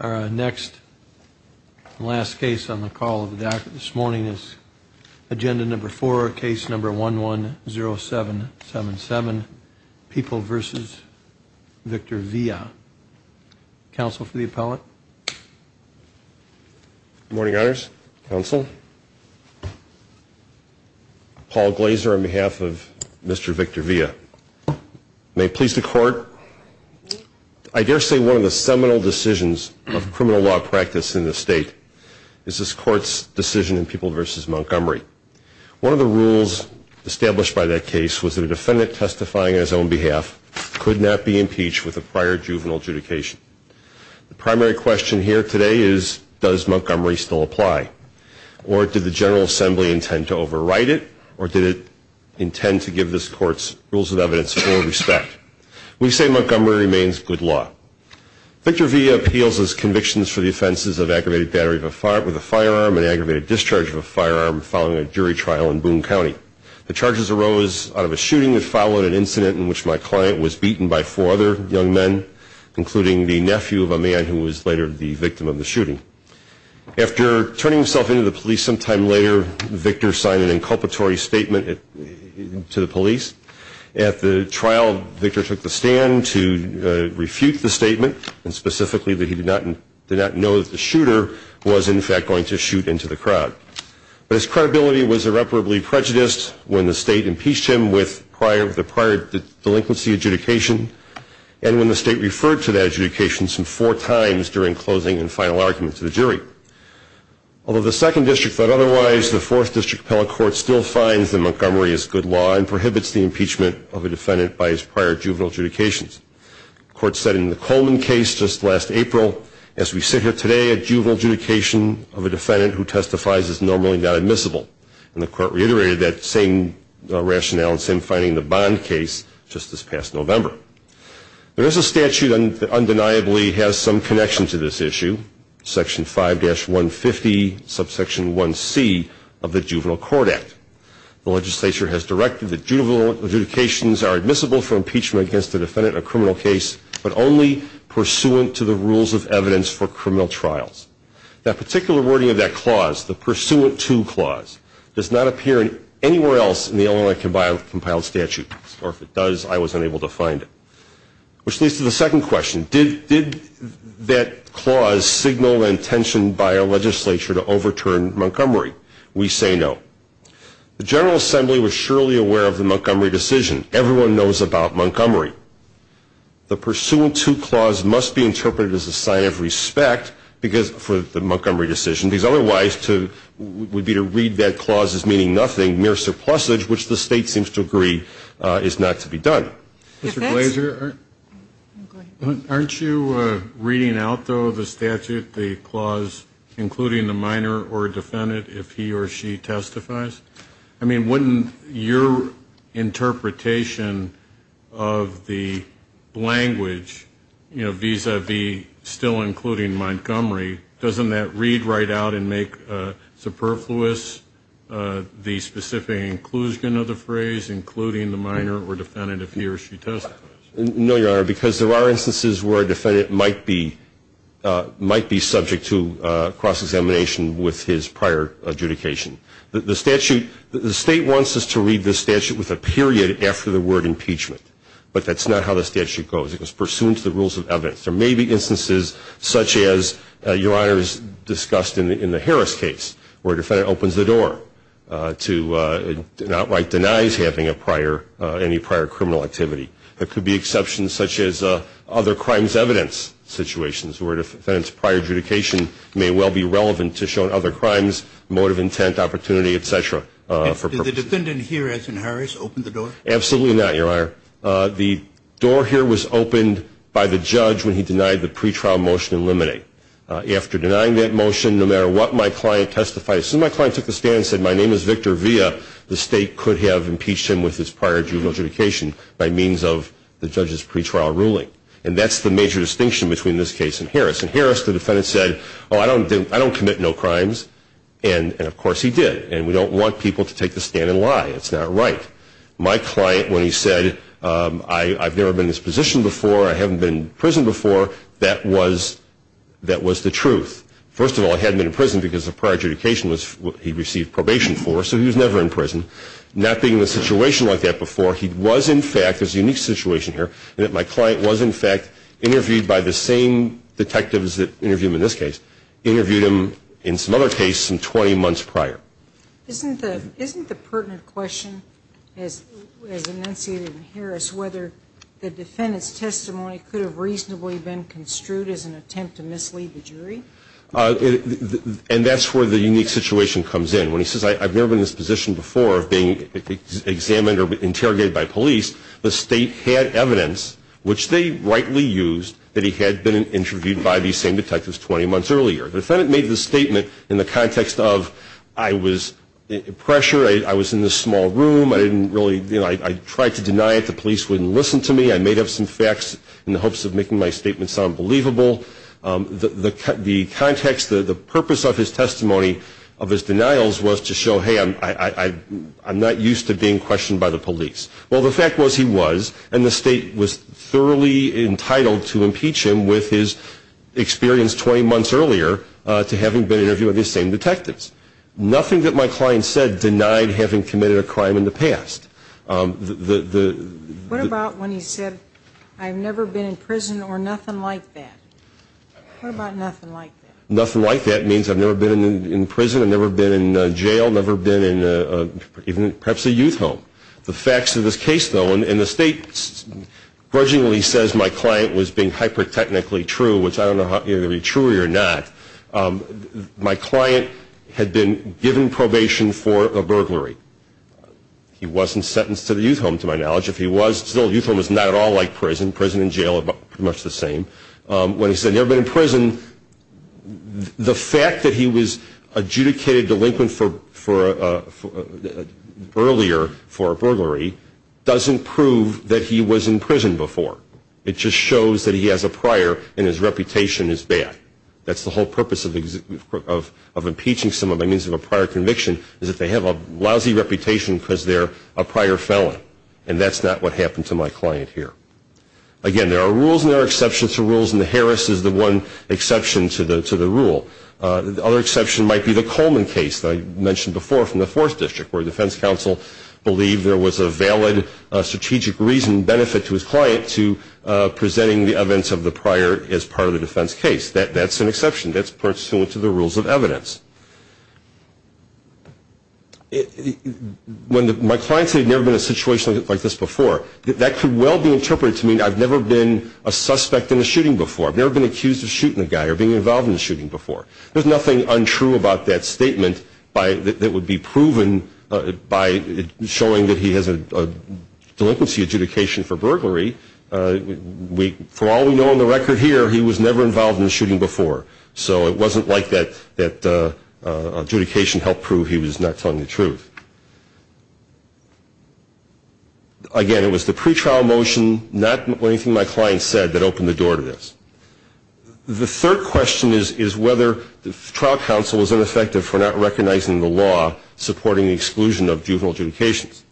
Our next last case on the call of the doctor this morning is agenda number four case number one one zero seven seven seven people versus Victor Villa counsel for the appellate morning honors counsel Paul Glazer on behalf of mr. One of the seminal decisions of criminal law practice in the state is this court's decision in people versus Montgomery. One of the rules established by that case was that a defendant testifying as on behalf could not be impeached with a prior juvenile adjudication. The primary question here today is does Montgomery still apply or did the General Assembly intend to overwrite it or did it intend to give this courts rules of evidence for respect. We say Montgomery remains good law. Victor Villa appeals as convictions for the offenses of aggravated battery with a firearm and aggravated discharge of a firearm following a jury trial in Boone County. The charges arose out of a shooting that followed an incident in which my client was beaten by four other young men including the nephew of a man who was later the victim of the shooting. After turning himself in to the police sometime later Victor signed an inculpatory statement to the police. At the trial Victor took the stand to refute the statement and specifically that he did not know that the shooter was in fact going to shoot into the crowd. But his credibility was irreparably prejudiced when the state impeached him with the prior delinquency adjudication and when the state referred to that adjudication some four times during closing and final argument to the jury. Although the second district thought otherwise, the fourth district appellate court still finds that Montgomery is good law and prohibits the impeachment of a defendant by his prior juvenile adjudications. The court said in the Coleman case just last April, as we sit here today a juvenile adjudication of a defendant who testifies is normally not admissible. And the court reiterated that same rationale and same finding in the Bond case just this past November. There is a statute that undeniably has some connection to this issue, section 5-150 subsection 1C of the Juvenile Court Act. The legislature has directed that juvenile adjudications are admissible for impeachment against a defendant in a criminal case but only pursuant to the rules of evidence for criminal trials. That particular wording of that clause, the pursuant to clause, does not appear anywhere else in the Illinois compiled statute or if it does I was unable to find it. Which leads to the second question. Did that clause signal intention by a legislature to overturn Montgomery? We say no. The General Assembly was surely aware of the Montgomery decision. Everyone knows about Montgomery. The pursuant to clause must be interpreted as a sign of respect for the Montgomery decision because otherwise it would be to read that clause as meaning nothing, mere surplusage, which the state seems to agree is not to be Mr. Glazer, aren't you reading out, though, the statute, the clause, including the minor or defendant if he or she testifies? I mean, wouldn't your interpretation of the language, you know, vis-a-vis still including Montgomery, doesn't that read right out and make superfluous the specific inclusion of the phrase, including the minor or defendant if he or she testifies? No, Your Honor, because there are instances where a defendant might be subject to cross-examination with his prior adjudication. The statute, the state wants us to read the statute with a period after the word impeachment, but that's not how the statute goes. It goes pursuant to the rules of evidence. There may be instances such as, Your Honor has discussed in the Harris case where a defendant opens the door to not write denies having a prior, any prior criminal activity. There could be exceptions such as other crimes evidence situations where a defendant's prior adjudication may well be relevant to show other crimes, motive intent, opportunity, et cetera. Did the defendant here, as in Harris, open the door? Absolutely not, Your Honor. The door here was opened by the judge when he denied the pre-trial motion in limine. After denying that motion, no matter what my client testified, so my client took the stand and said, my name is Victor Villa. The state could have impeached him with his prior adjudication by means of the judge's pre-trial ruling. And that's the major distinction between this case and Harris. In Harris, the defendant said, I don't commit no crimes. And of course he did. And we don't want people to take the stand and lie. It's not right. My client, when he said, I've never been in this position before, I haven't been in prison before, that was, that was the truth. First of all, I hadn't been in prison because the prior adjudication was what he received probation for, so he was never in prison. Not being in a situation like that before, he was in fact, there's a unique situation here, that my client was in fact interviewed by the same detectives that interviewed him in this case, interviewed him in some other case some 20 months prior. Isn't the pertinent question, as enunciated in Harris, whether the defendant's testimony could have reasonably been construed as an attempt to mislead the jury? And that's where the unique situation comes in. When he says, I've never been in this position before, of being examined or interrogated by police, the state had evidence, which they rightly used, that he had been interviewed by these same detectives 20 months earlier. The defendant made the statement in the context of, I was in pressure, I was in this small room, I didn't really, I tried to deny it, the police wouldn't listen to me, I made up some facts in the hopes of making my statement sound believable. The context, the purpose of his testimony, of his denials was to show, hey, I'm not used to being questioned by the police. Well, the fact was he was, and the state was thoroughly entitled to impeach him with his experience 20 months earlier to having been interviewed by these same detectives. Nothing that my client said denied having committed a crime in the past. What about when he said, I've never been in prison or nothing like that? What about nothing like that? Nothing like that means I've never been in prison, I've never been in jail, never been in perhaps a youth home. The facts of this case, though, and the state grudgingly says my client was being hyper-technically true, which I don't know whether it would be truer or not, my client had been given probation for a burglary. He wasn't sentenced to the youth home, to my knowledge. If he was, still, the youth home was not at all like prison. Prison and jail are pretty much the same. When he said, never been in prison, the fact that he was adjudicated delinquent earlier for a burglary doesn't prove that he was in prison. It just shows that he has a prior and his reputation is bad. That's the whole purpose of impeaching someone by means of a prior conviction, is that they have a lousy reputation because they're a prior felon. And that's not what happened to my client here. Again, there are rules and there are exceptions to rules, and the Harris is the one exception to the rule. The other exception might be the Coleman case that I mentioned before from the 4th District, where the defense counsel believed there was a valid strategic reason and benefit to his client to presenting the evidence of the prior as part of the defense case. That's an exception. That's pursuant to the rules of evidence. When my client said, never been in a situation like this before, that could well be interpreted to mean I've never been a suspect in a shooting before. I've never been accused of shooting a guy or being involved in a shooting before. There's nothing untrue about that statement that would be proven by showing that he has a delinquency adjudication for burglary. For all we know on the record here, he was never involved in a shooting before. So it wasn't like that adjudication helped prove he was not telling the truth. Again, it was the pretrial motion, not anything my client said, that opened the door to this. The third question is whether the trial counsel was ineffective for not recognizing the law supporting the exclusion of juvenile adjudications.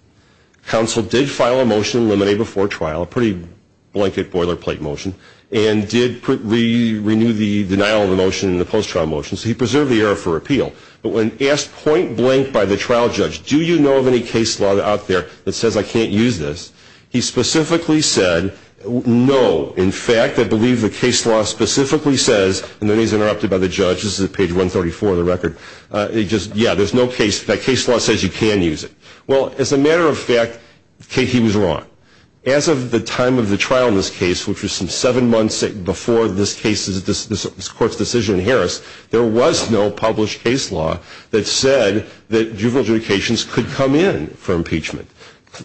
Counsel did file a motion to eliminate before trial, a pretty blanket boilerplate motion, and did renew the denial of the motion and the post-trial motion. So he preserved the error for appeal. But when asked point blank by the trial judge, do you know of any case law out there that says I can't use this, he specifically said, no. In fact, I believe the case law specifically says, and then he's interrupted by the judge, this is page 134 of the record, yeah, there's no case, that case law says you can use it. Well, as a matter of fact, he was wrong. As of the time of the trial in this case, which was some seven months before this court's decision in Harris, there was no published case law that said that juvenile adjudications could come in for impeachment.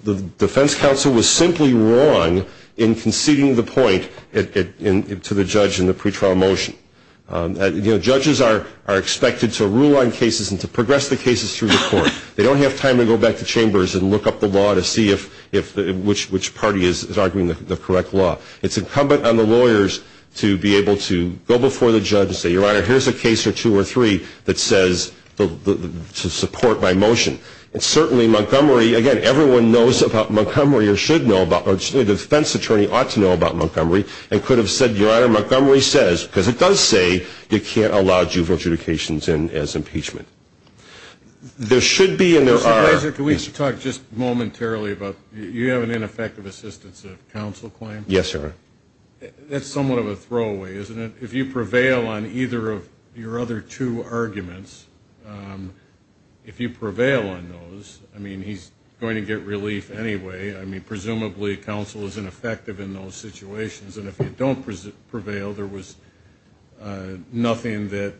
The defense counsel was simply wrong in conceding the point to the judge in the pre-trial motion. Judges are expected to rule on cases and to progress the cases through the court. They don't have time to go back to chambers and look up the law to see which party is arguing the correct law. It's incumbent on the lawyers to be able to go before the judge and say, Your Honor, here's a case or two or three that says to support my motion. And certainly Montgomery, again, everyone knows about Montgomery or should know about, or the defense attorney ought to know about Montgomery and could have said, Your Honor, Montgomery says, because it does say you can't allow juvenile adjudications in as impeachment. There should be and there are... Mr. Grazer, can we talk just momentarily about, you have an ineffective assistance of counsel claim? Yes, Your Honor. That's somewhat of a throwaway, isn't it? If you prevail on either of your other two arguments, if you prevail on those, I mean, he's going to get relief anyway. I mean, presumably counsel is ineffective in those situations. And if you don't prevail, there was nothing that,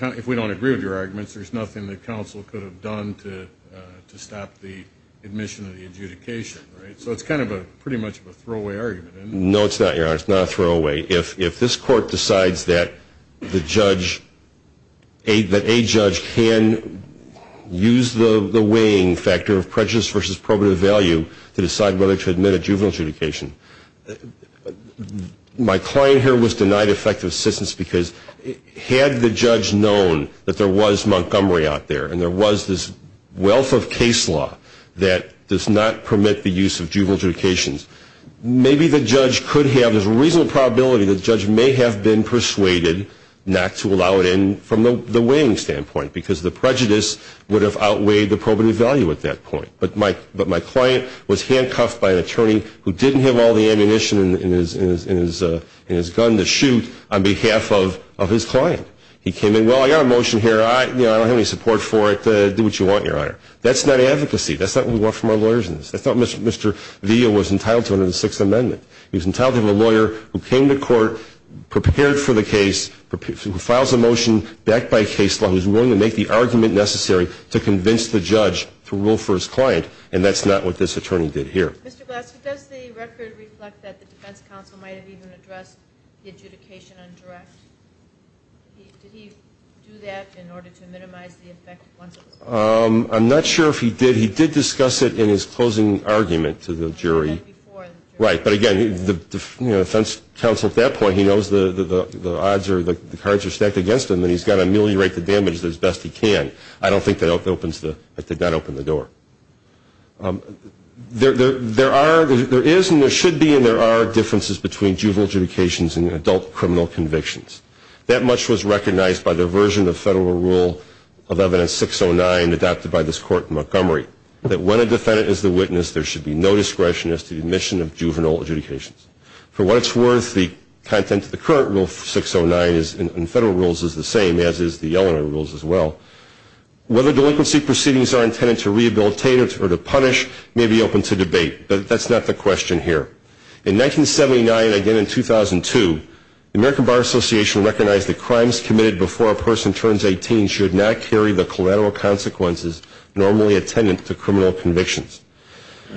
if we don't agree with your arguments, there's nothing that counsel could have done to stop the admission of the adjudication, right? So it's kind of a, pretty much a throwaway argument, isn't it? No, it's not, Your Honor. It's not a throwaway. If this court decides that the judge, that a judge can use the weighing factor of prejudice versus probative value to decide whether to admit a juvenile adjudication, my client here was denied effective assistance because had the judge known that there was Montgomery out there and there was this wealth of case evidence, the judge could have, there's a reasonable probability that the judge may have been persuaded not to allow it in from the weighing standpoint because the prejudice would have outweighed the probative value at that point. But my client was handcuffed by an attorney who didn't have all the ammunition in his gun to shoot on behalf of his client. He came in, well, I got a motion here. I don't have any support for it. Do what you want, Your Honor. That's not advocacy. That's not what we want from our lawyers in this. I thought we wanted to have a lawyer who came to court, prepared for the case, who files a motion backed by a case law, who's willing to make the argument necessary to convince the judge to rule for his client, and that's not what this attorney did here. Mr. Glassman, does the record reflect that the defense counsel might have even addressed the adjudication on direct? Did he do that in order to minimize the effect once it was passed? I'm not sure if he did. He did discuss it in his closing argument to the jury. He did before the jury. Right. But again, the defense counsel at that point, he knows the odds are, the cards are stacked against him, and he's got to ameliorate the damage as best he can. I don't think that opens the, that did not open the door. There are, there is and there should be and there are differences between juvenile adjudications and adult criminal convictions. That much was recognized by the version of federal rule of evidence 609 adopted by this court in Montgomery, that when a defendant is the witness, there should be no discretion as to the admission of juvenile adjudications. For what it's worth, the content of the current rule 609 is, in federal rules, is the same as is the Eleanor rules as well. Whether delinquency proceedings are intended to rehabilitate or to punish may be open to debate, but that's not the question here. In 1979, again in 2002, the American Bar Association recognized that crimes committed before a person turns 18 should not carry the collateral consequences normally attendant to criminal convictions.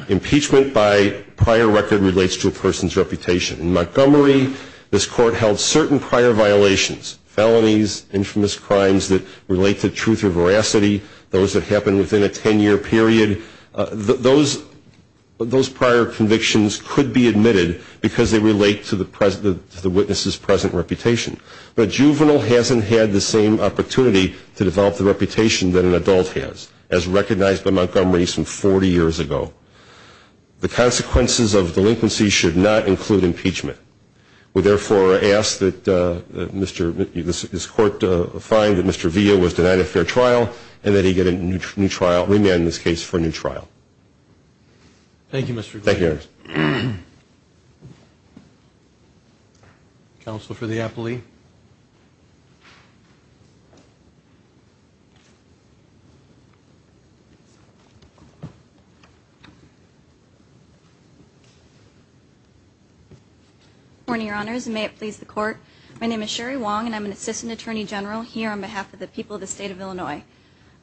Impeachment by prior record relates to a person's reputation. In Montgomery, this court held certain prior violations, felonies, infamous crimes that relate to truth or veracity, those that happen within a 10-year period. Those, those prior convictions could be admitted because they relate to the witness's present reputation. But a juvenile hasn't had the same opportunity to develop the reputation that an adult has, as recognized by Montgomery some 40 years ago. The consequences of delinquency should not include impeachment. We therefore ask that Mr., this court find that Mr. Villa was denied a fair trial and that he get a new trial, remain in this case for a new trial. Thank you, Your Honor. Counsel for the appellee. Good morning, Your Honors, and may it please the Court. My name is Sherry Wong and I'm an Assistant Attorney General here on behalf of the people of the State of Illinois.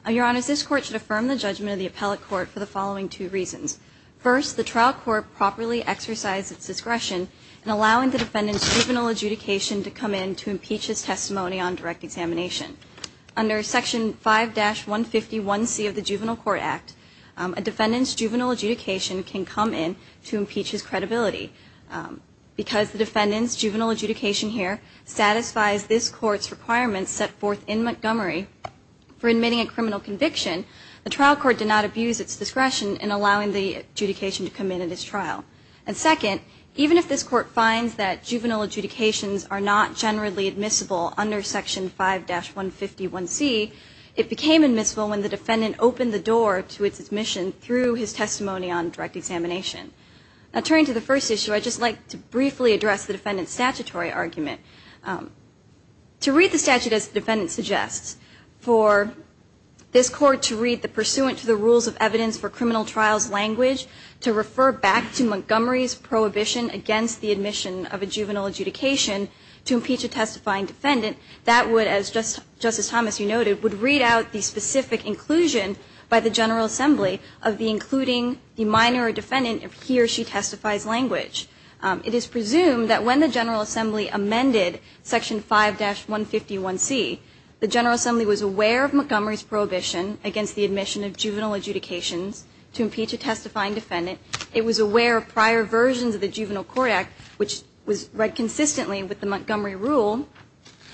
Your Honors, this Court should affirm the judgment of the appellate court for the following two and allowing the defendant's juvenile adjudication to come in to impeach his testimony on direct examination. Under Section 5-151C of the Juvenile Court Act, a defendant's juvenile adjudication can come in to impeach his credibility. Because the defendant's juvenile adjudication here satisfies this Court's requirements set forth in Montgomery for admitting a criminal conviction, the trial court did not abuse its discretion in allowing the adjudication to come in at this trial. And second, even if this Court finds that juvenile adjudications are not generally admissible under Section 5-151C, it became admissible when the defendant opened the door to its admission through his testimony on direct examination. Now, turning to the first issue, I'd just like to briefly address the defendant's statutory argument. To read the statute as the defendant suggests, for this Court to read the pursuant to the rules of evidence for criminal trials language to refer back to Montgomery's prohibition against the admission of a juvenile adjudication to impeach a testifying defendant, that would, as Justice Thomas, you noted, would read out the specific inclusion by the General Assembly of the including the minor defendant if he or she testifies language. It is presumed that when the General Assembly amended Section 5-151C, the juvenile adjudications to impeach a testifying defendant, it was aware of prior versions of the Juvenile Court Act, which was read consistently with the Montgomery rule,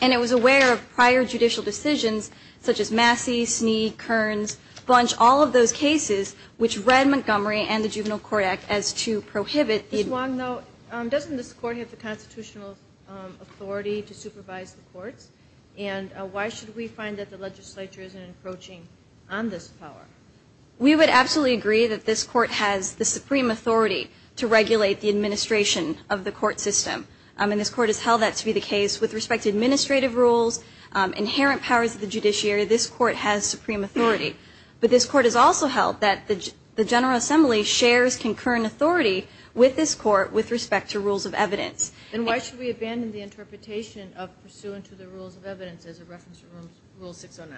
and it was aware of prior judicial decisions, such as Massey, Snead, Kearns, Bunch, all of those cases which read Montgomery and the Juvenile Court Act as to prohibit the Ms. Wong, though, doesn't this Court have the constitutional authority to supervise the courts? And why should we find that the legislature isn't approaching on this power? We would absolutely agree that this Court has the supreme authority to regulate the administration of the court system. And this Court has held that to be the case with respect to administrative rules, inherent powers of the judiciary, this Court has supreme authority. But this Court has also held that the General Assembly shares concurrent authority with this Court with respect to rules of evidence. Then why should we abandon the interpretation of pursuant to the rules of evidence as a reference to Rule 609?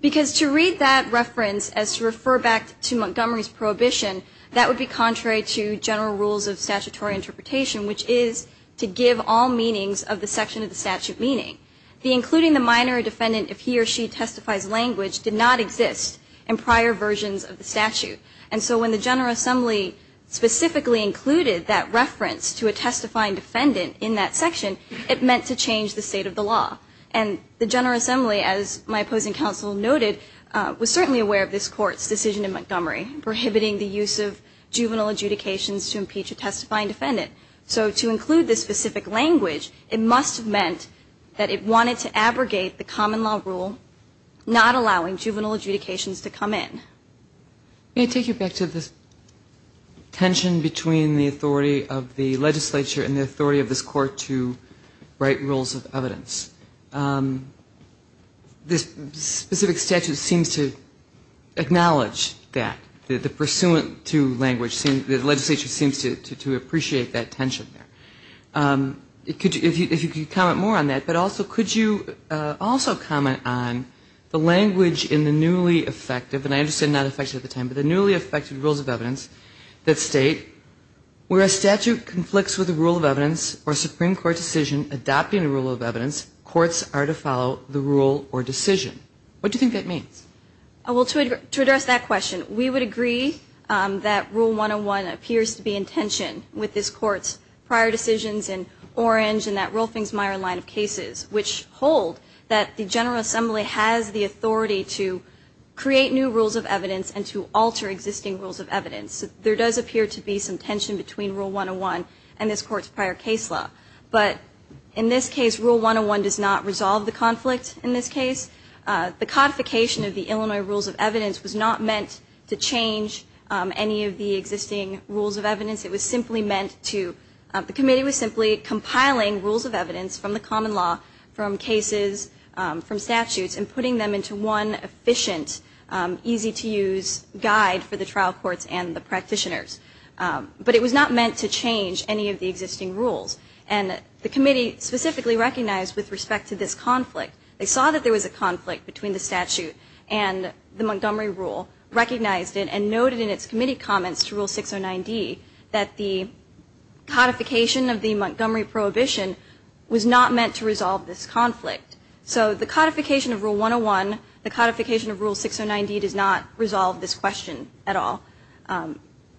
Because to read that reference as to refer back to Montgomery's prohibition, that would be contrary to general rules of statutory interpretation, which is to give all meanings of the section of the statute meaning. The including the minor defendant if he or she testifies language did not exist in prior versions of the statute. And so when the General Assembly specifically included that reference to a testifying defendant in that section, it meant to change the state of the law. And the General Assembly, as my opposing counsel noted, was certainly aware of this Court's decision in Montgomery prohibiting the use of juvenile adjudications to impeach a testifying defendant. So to include this specific language, it must have meant that it wanted to abrogate the common law rule not allowing juvenile adjudications to come in. Can I take you back to this tension between the authority of the legislature and the authority of this Court to write rules of evidence? This specific statute seems to acknowledge that. The pursuant to language, the legislature seems to appreciate that tension there. If you could comment more on that, but also could you also comment on the language in the newly effective, and I understand that not effective at the time, but the newly effective rules of evidence that state where a statute conflicts with a rule of evidence or a Supreme Court decision adopting a rule of evidence, courts are to follow the rule or decision. What do you think that means? Well, to address that question, we would agree that Rule 101 appears to be in tension with this Court's prior decisions in Orange and that Rolfings-Meyer line of cases, which hold that the General Assembly has the authority to create new rules of evidence and to alter existing rules of evidence. There does appear to be some tension between Rule 101 and this Court's prior case law. But in this case, Rule 101 does not resolve the conflict in this case. The codification of the Illinois rules of evidence was not meant to change any of the existing rules of evidence. It was simply meant to, the committee was simply compiling rules of evidence from the common law, from cases, from statutes and putting them into one efficient, easy-to-use guide for the trial courts and the practitioners. But it was not meant to change any of the existing rules. And the committee specifically recognized with respect to this conflict, they saw that there was a conflict between the statute and the Montgomery rule, recognized it, and noted in its committee comments to Rule 609D that the codification of the Montgomery prohibition was not meant to resolve this conflict. So the codification of Rule 101, the codification of Rule 609D does not resolve this question at all.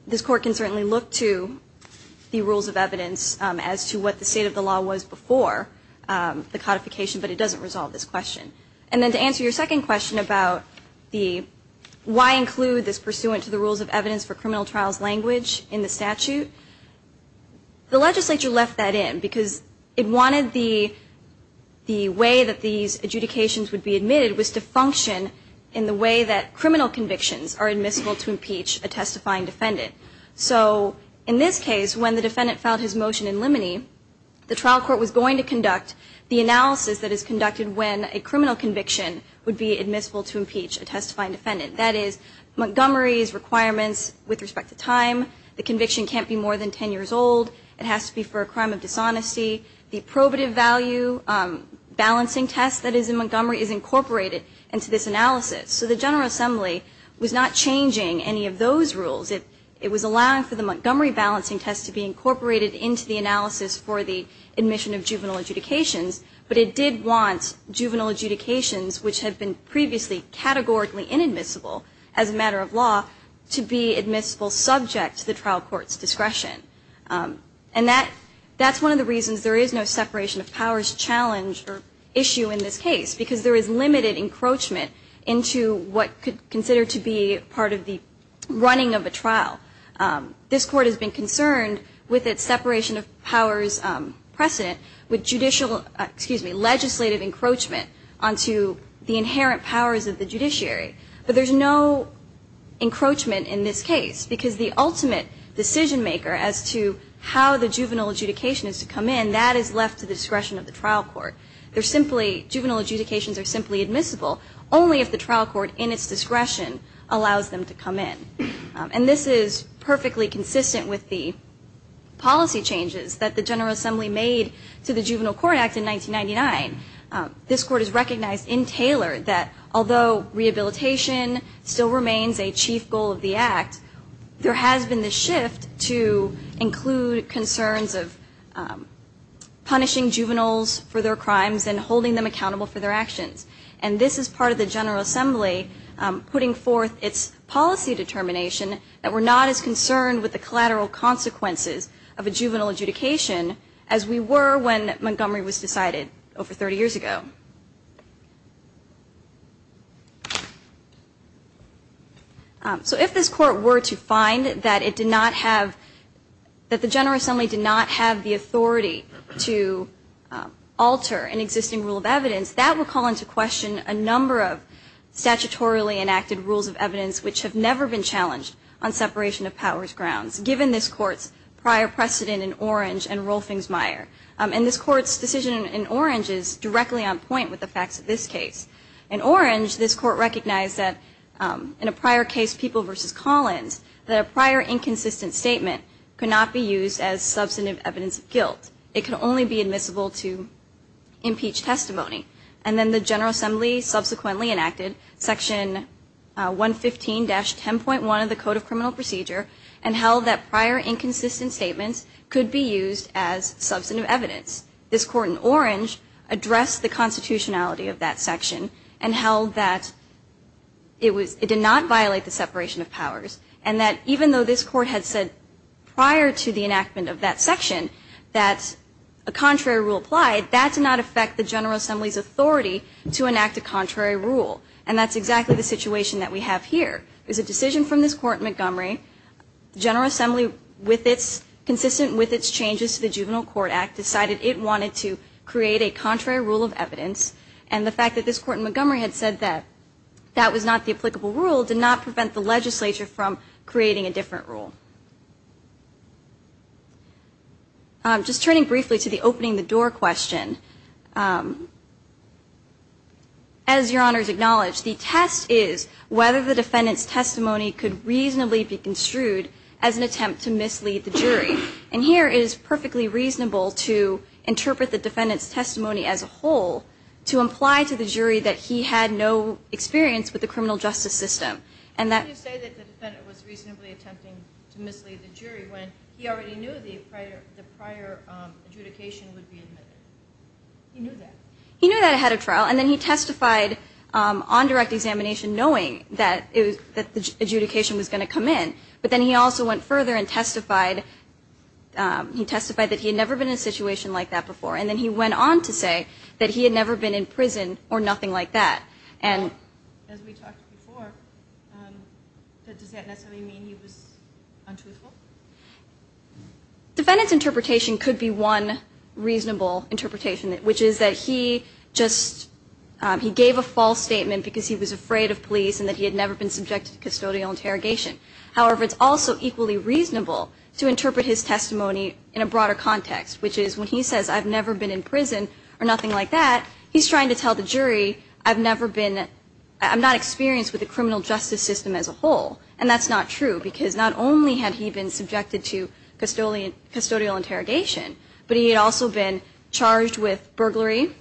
This Court can certainly look to the rules of evidence as to what the state of the law was before the codification, but it doesn't resolve this question. And then to answer your second question about the why include this pursuant to the rules of evidence for criminal trials language in the statute, the legislature left that in because it wanted the way that these adjudications would be committed was to function in the way that criminal convictions are admissible to impeach a testifying defendant. So in this case, when the defendant filed his motion in limine, the trial court was going to conduct the analysis that is conducted when a criminal conviction would be admissible to impeach a testifying defendant. That is, Montgomery's requirements with respect to time, the conviction can't be more than 10 years old, it has to be for a crime of dishonesty, the defendant has to be innocent of the crime, and it has to be incorporated into this analysis. So the General Assembly was not changing any of those rules. It was allowing for the Montgomery balancing test to be incorporated into the analysis for the admission of juvenile adjudications, but it did want juvenile adjudications, which had been previously categorically inadmissible as a matter of law, to be admissible subject to the trial court's discretion. And that's one of the reasons there is no separation of powers challenge or issue in this case, because there is limited encroachment into what could consider to be part of the running of a trial. This court has been concerned with its separation of powers precedent with judicial, excuse me, legislative encroachment onto the inherent powers of the judiciary. But there's no encroachment in this case because the ultimate decision maker as to how the juvenile adjudication is to come in, that is left to the discretion of the trial court. They're simply, juvenile adjudications are simply admissible only if the trial court in its discretion allows them to come in. And this is perfectly consistent with the policy changes that the General Assembly made to the Juvenile Court Act in 1999. This court has recognized in Taylor that although rehabilitation still remains a chief goal of the Act, there has been this shift to include concerns of punishing juveniles for their crimes and holding them accountable for their actions. And this is part of the General Assembly putting forth its policy determination that we're not as concerned with the collateral consequences of a juvenile adjudication as we were when Montgomery was decided over 30 years ago. So if this court were to find that it did not have, that the General Assembly did not have the authority to alter an existing rule of evidence, that would call into question a number of statutorily enacted rules of evidence which have never been challenged on separation of powers grounds, given this court's prior precedent in Orange and Rolfings-Meyer. And this court's decision in Orange is directly on point with the facts of this case. In Orange, this court recognized that in a prior case, People v. Collins, that a prior inconsistent statement could not be used as substantive evidence of guilt. It could only be admissible to impeach testimony. And then the General Assembly subsequently enacted Section 115-10.1 of the Code of Criminal Procedure and held that prior inconsistent statements could be used as substantive evidence. This court in Orange addressed the constitutionality of that section and held that it was, it did not violate the separation of powers and that even though this court had said prior to the enactment of that section that a contrary rule applied, that did not affect the General Assembly's authority to enact a contrary rule. And that's exactly the situation that we have here. It's a decision from this court in Montgomery. The General Assembly, consistent with its changes to the Juvenile Court Act, decided it wanted to create a contrary rule of evidence. And the fact that this court in Montgomery had said that that was not the applicable rule did not prevent the legislature from creating a different rule. Just turning briefly to the opening the door question, as Your Honors acknowledged, the test is whether the defendant's testimony could reasonably be construed as an attempt to mislead the jury. And here it is perfectly reasonable to interpret the defendant's testimony as a whole to imply to the jury that he had no experience with the criminal justice system. And that- You say that the defendant was reasonably attempting to mislead the jury when he already knew the prior adjudication would be admitted. He knew that. He knew that ahead of trial and then he testified on direct examination knowing that the adjudication was going to come in. But then he also went further and testified that he had never been in a situation like that before. And then he went on to say that he had never been in prison or nothing like that. And as we talked before, does that necessarily mean he was untruthful? Defendant's interpretation could be one reasonable interpretation, which is that he just he gave a false statement because he was afraid of police and that he had never been in prison or nothing like that. He's trying to tell the jury, I've never been, I'm not experienced with the criminal justice system as a whole. And that's not true because not only had he been subjected to custodial interrogation, but he had also been charged with burglary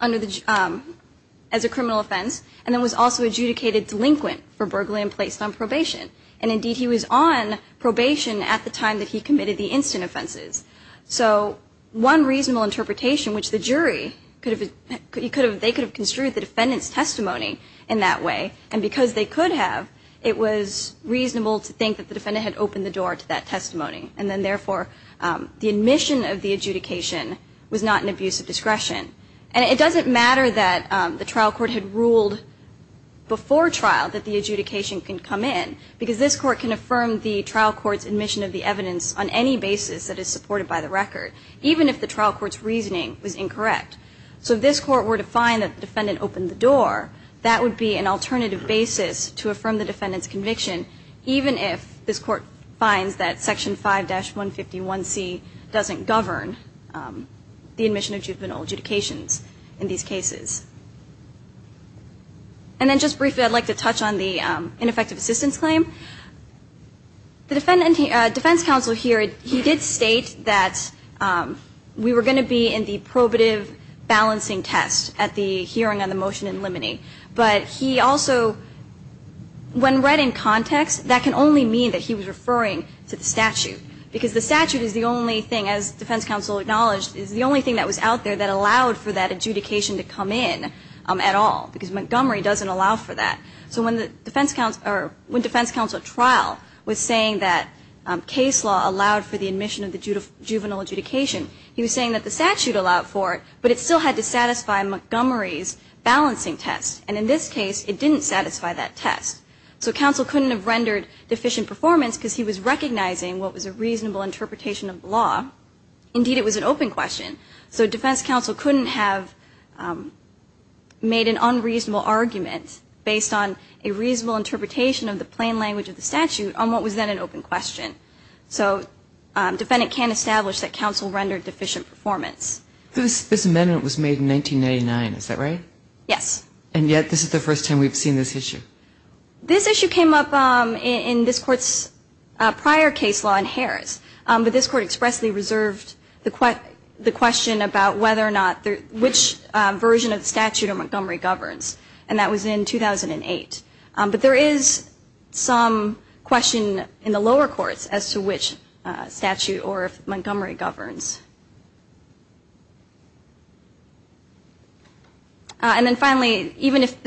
as a criminal offense. And then was also adjudicated delinquent for burglary and placed on probation. And indeed he was on probation at the time that he So the jury could have been able to determine that he was not guilty of any of these three constant offenses. So one reasonable interpretation, which the jury could have, they could have construed the defendant's testimony in that way. And because they could have, it was reasonable to think that the defendant had opened the door to that alternative basis that is supported by the record, even if the trial court's reasoning was incorrect. So if this court were to find that the defendant opened the door, that would be an alternative basis to affirm the defendant's conviction, even if this court finds that Section 5-151C doesn't govern the admission of juvenile adjudications in these cases. And then just briefly, I'd like to touch on the ineffective assistance claim. The defense counsel here, he did state that we were going to be in the probative balancing test at the hearing on the motion in limine. But he also, when read in context, that can only mean that he was referring to the statute. Because the statute is the only thing, as defense counsel acknowledged, is the only thing that was out there that allowed for that adjudication to come in at all. Because Montgomery doesn't allow for that. So when defense counsel trial was saying that case law allowed for the admission of the juvenile adjudication, he was saying that the statute allowed for it, but it still had to satisfy Montgomery's balancing test. And in this case, it didn't satisfy that test. So counsel couldn't have rendered deficient performance because he was recognizing what was a reasonable interpretation of the law. Indeed, it was an open question. So defense counsel couldn't have made an unreasonable argument based on a reasonable interpretation of the plain language of the statute on what was then an open question. So defendant can't establish that counsel rendered deficient performance. This amendment was made in 1999. Is that right? Yes. And yet this is the first time we've seen this issue. This issue came up in this court's prior case law in Harris. But this court expressly reserved the question about whether or not which version of the statute Montgomery governs. And that was in 2008. But there is some question in the lower courts as to which statute or if Montgomery governs. And then finally, even if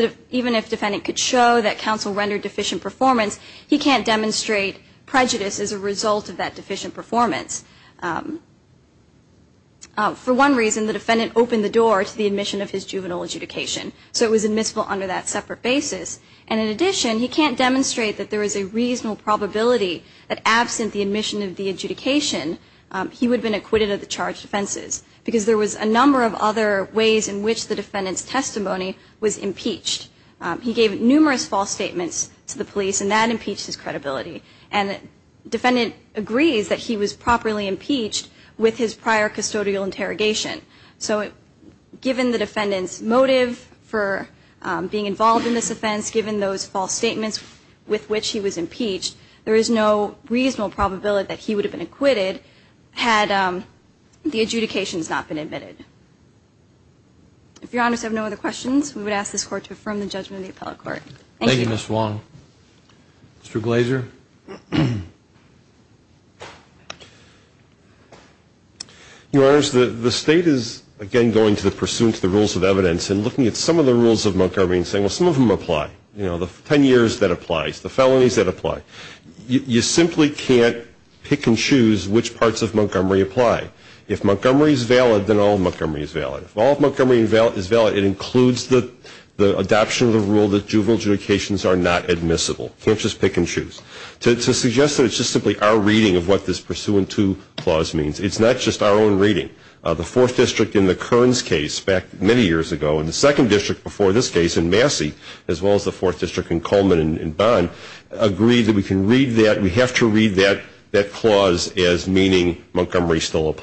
defendant could show that counsel rendered deficient performance, he can't demonstrate prejudice as a result of that deficient performance. For one reason, the defendant opened the door to the admission of his juvenile adjudication. So it was admissible under that separate basis. And in addition, he can't demonstrate that there is a reasonable probability that absent the admission of the juvenile adjudication that he would have been acquitted. And that's why he was not charged with offenses. Because there was a number of other ways in which the defendant's testimony was impeached. He gave numerous false statements to the police, and that impeached his credibility. And the defendant agrees that he was properly impeached with his prior custodial interrogation. So given the defendant's motive for being involved in this offense, given those false statements with which he was impeached, there is no reasonable probability that he would have been acquitted had the adjudications not been admitted. If Your Honors have no other questions, we would ask this Court to affirm the judgment of Mr. Glazer. Your Honors, the State is, again, going to the pursuance of the rules of evidence and looking at some of the rules of Montgomery and saying, well, some of them apply. You know, the 10 years, that applies. The felonies, that apply. You simply can't pick and choose which parts of Montgomery apply. If Montgomery is valid, then all of the felonies are not admissible. You can't just pick and choose. To suggest that it's just simply our reading of what this pursuant to clause means, it's not just our own reading. The 4th District in the Kearns case back many years ago, and the 2nd District before this case in Massey, as well as the 4th District in Coleman and Bond, agreed that we can read that, we have to read that clause as meaning the same thing as the other,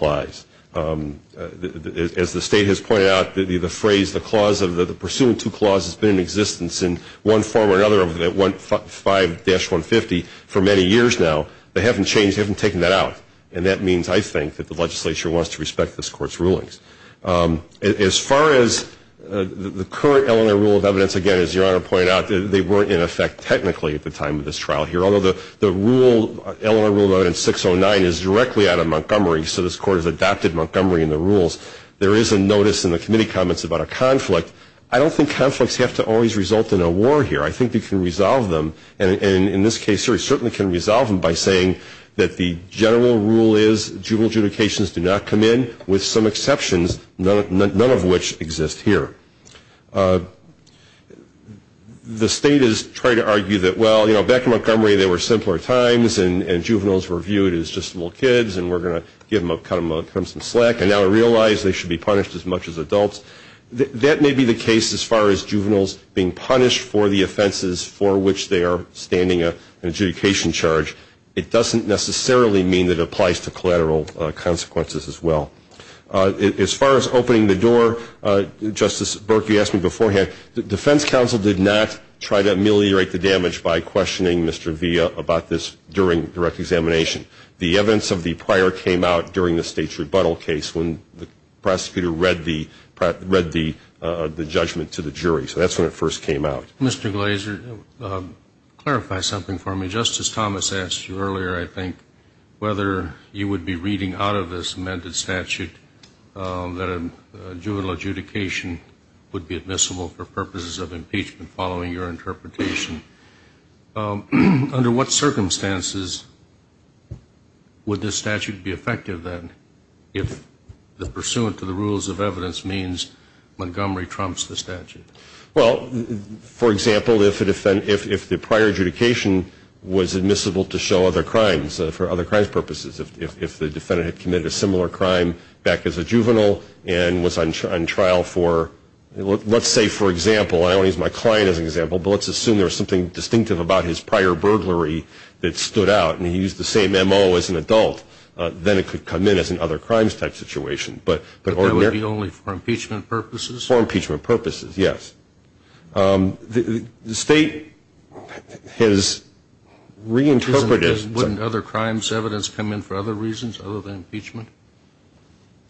5-150, for many years now. They haven't changed, they haven't taken that out. And that means, I think, that the Legislature wants to respect this Court's rulings. As far as the current LNI Rule of Evidence, again, as Your Honor pointed out, they weren't in effect technically at the time of this trial here. Although the LNI Rule of Evidence 609 is directly out of Montgomery, so this Court has adopted Montgomery in the rules, there is a notice in the Committee Comments about a conflict. I don't think conflicts have to always result in a war here. I think we can resolve them, and in this case, certainly can resolve them, by saying that the general rule is, juvenile adjudications do not come in, with some exceptions, none of which exist here. The State is trying to argue that, well, back in Montgomery, there were simpler times, and juveniles were viewed as just little kids, and we're going to cut them some slack. And now I realize they should be punished as much as adults. That may be the case as far as juveniles being punished for the offenses for which they are standing an adjudication charge. It doesn't necessarily mean that it applies to collateral consequences as well. As far as opening the door, Justice Burke, you asked me beforehand, the Defense Counsel did not try to ameliorate the damage by questioning Mr. Villa about this during direct examination. The evidence of the prior came out during the State's rebuttal case when the prosecutor read the judgment to the jury. So that's when it first came out. Mr. Glazer, clarify something for me. Justice Thomas asked you earlier, I think, whether you would be reading out of this amended statute that a juvenile adjudication would be admissible for purposes of impeachment following your interpretation. Under what circumstances would this statute be effective, then, if the pursuant to the rules of evidence means Montgomery trumps the statute? Well, for example, if the prior adjudication was admissible to show other crimes, for other crimes purposes, if the defendant had committed a similar crime back as a juvenile and was on trial for, let's say, for example, I don't want to use my client as an example, but let's assume there was something distinctive about his prior burglary that stood out and he used the same M.O. as an adult, then it could come in as an other crimes type situation. But that would be only for impeachment purposes? For impeachment purposes, yes. The State has reinterpreted – Wouldn't other crimes evidence come in for other reasons other than impeachment?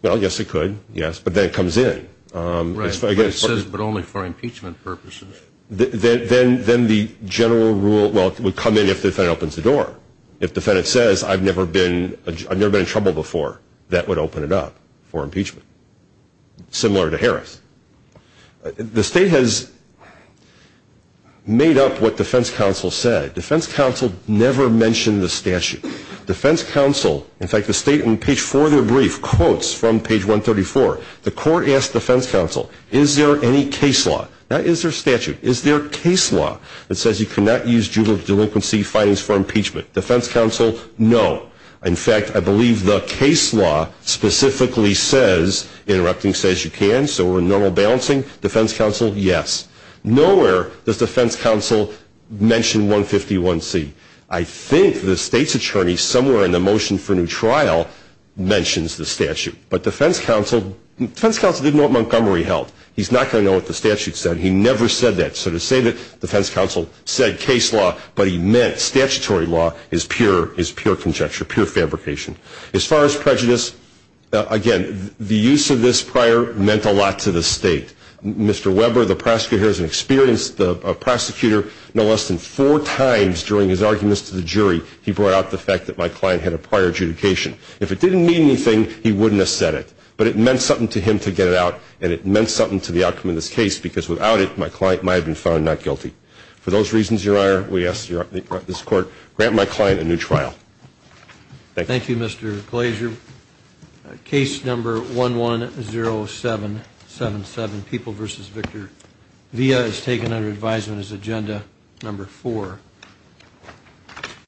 Well, yes, it could, yes, but then it comes in. Right, but it says but only for impeachment purposes. Then the general rule – well, it would come in if the defendant opens the door. If the defendant says, I've never been in trouble before, that would open it up for impeachment, similar to Harris. The State has made up what defense counsel said. Defense counsel never mentioned the statute. Defense counsel – in fact, the State, in page 4 of their brief, quotes from page 134. The court asked defense counsel, is there any case law? That is their statute. Is there a case law that says you cannot use juvenile delinquency findings for impeachment? Defense counsel, no. In fact, I believe the case law specifically says – interrupting says you can, so we're in normal balancing. Defense counsel, yes. Nowhere does defense counsel mention 151C. I think the State's attorney, somewhere in the motion for new trial, mentions the statute. But defense counsel – defense counsel didn't know what Montgomery held. He's not going to know what the statute said. He never said that. So to say that defense counsel said case law, but he meant statutory law, is pure conjecture, pure fabrication. As far as prejudice, again, the use of this prior meant a lot to the State. Mr. Weber, the prosecutor, has experienced the prosecutor no less than four times during his arguments to the jury he brought out the fact that my client had a prior adjudication. If it didn't mean anything, he wouldn't have said it. But it meant something to him to get it out, and it meant something to the outcome of this case because without it, my client might have been found not guilty. For those reasons, Your Honor, we ask this Court grant my client a new trial. Thank you. Thank you, Mr. Glazer. Case number 110777, People v. Victor Villa, is taken under advisement as agenda number four.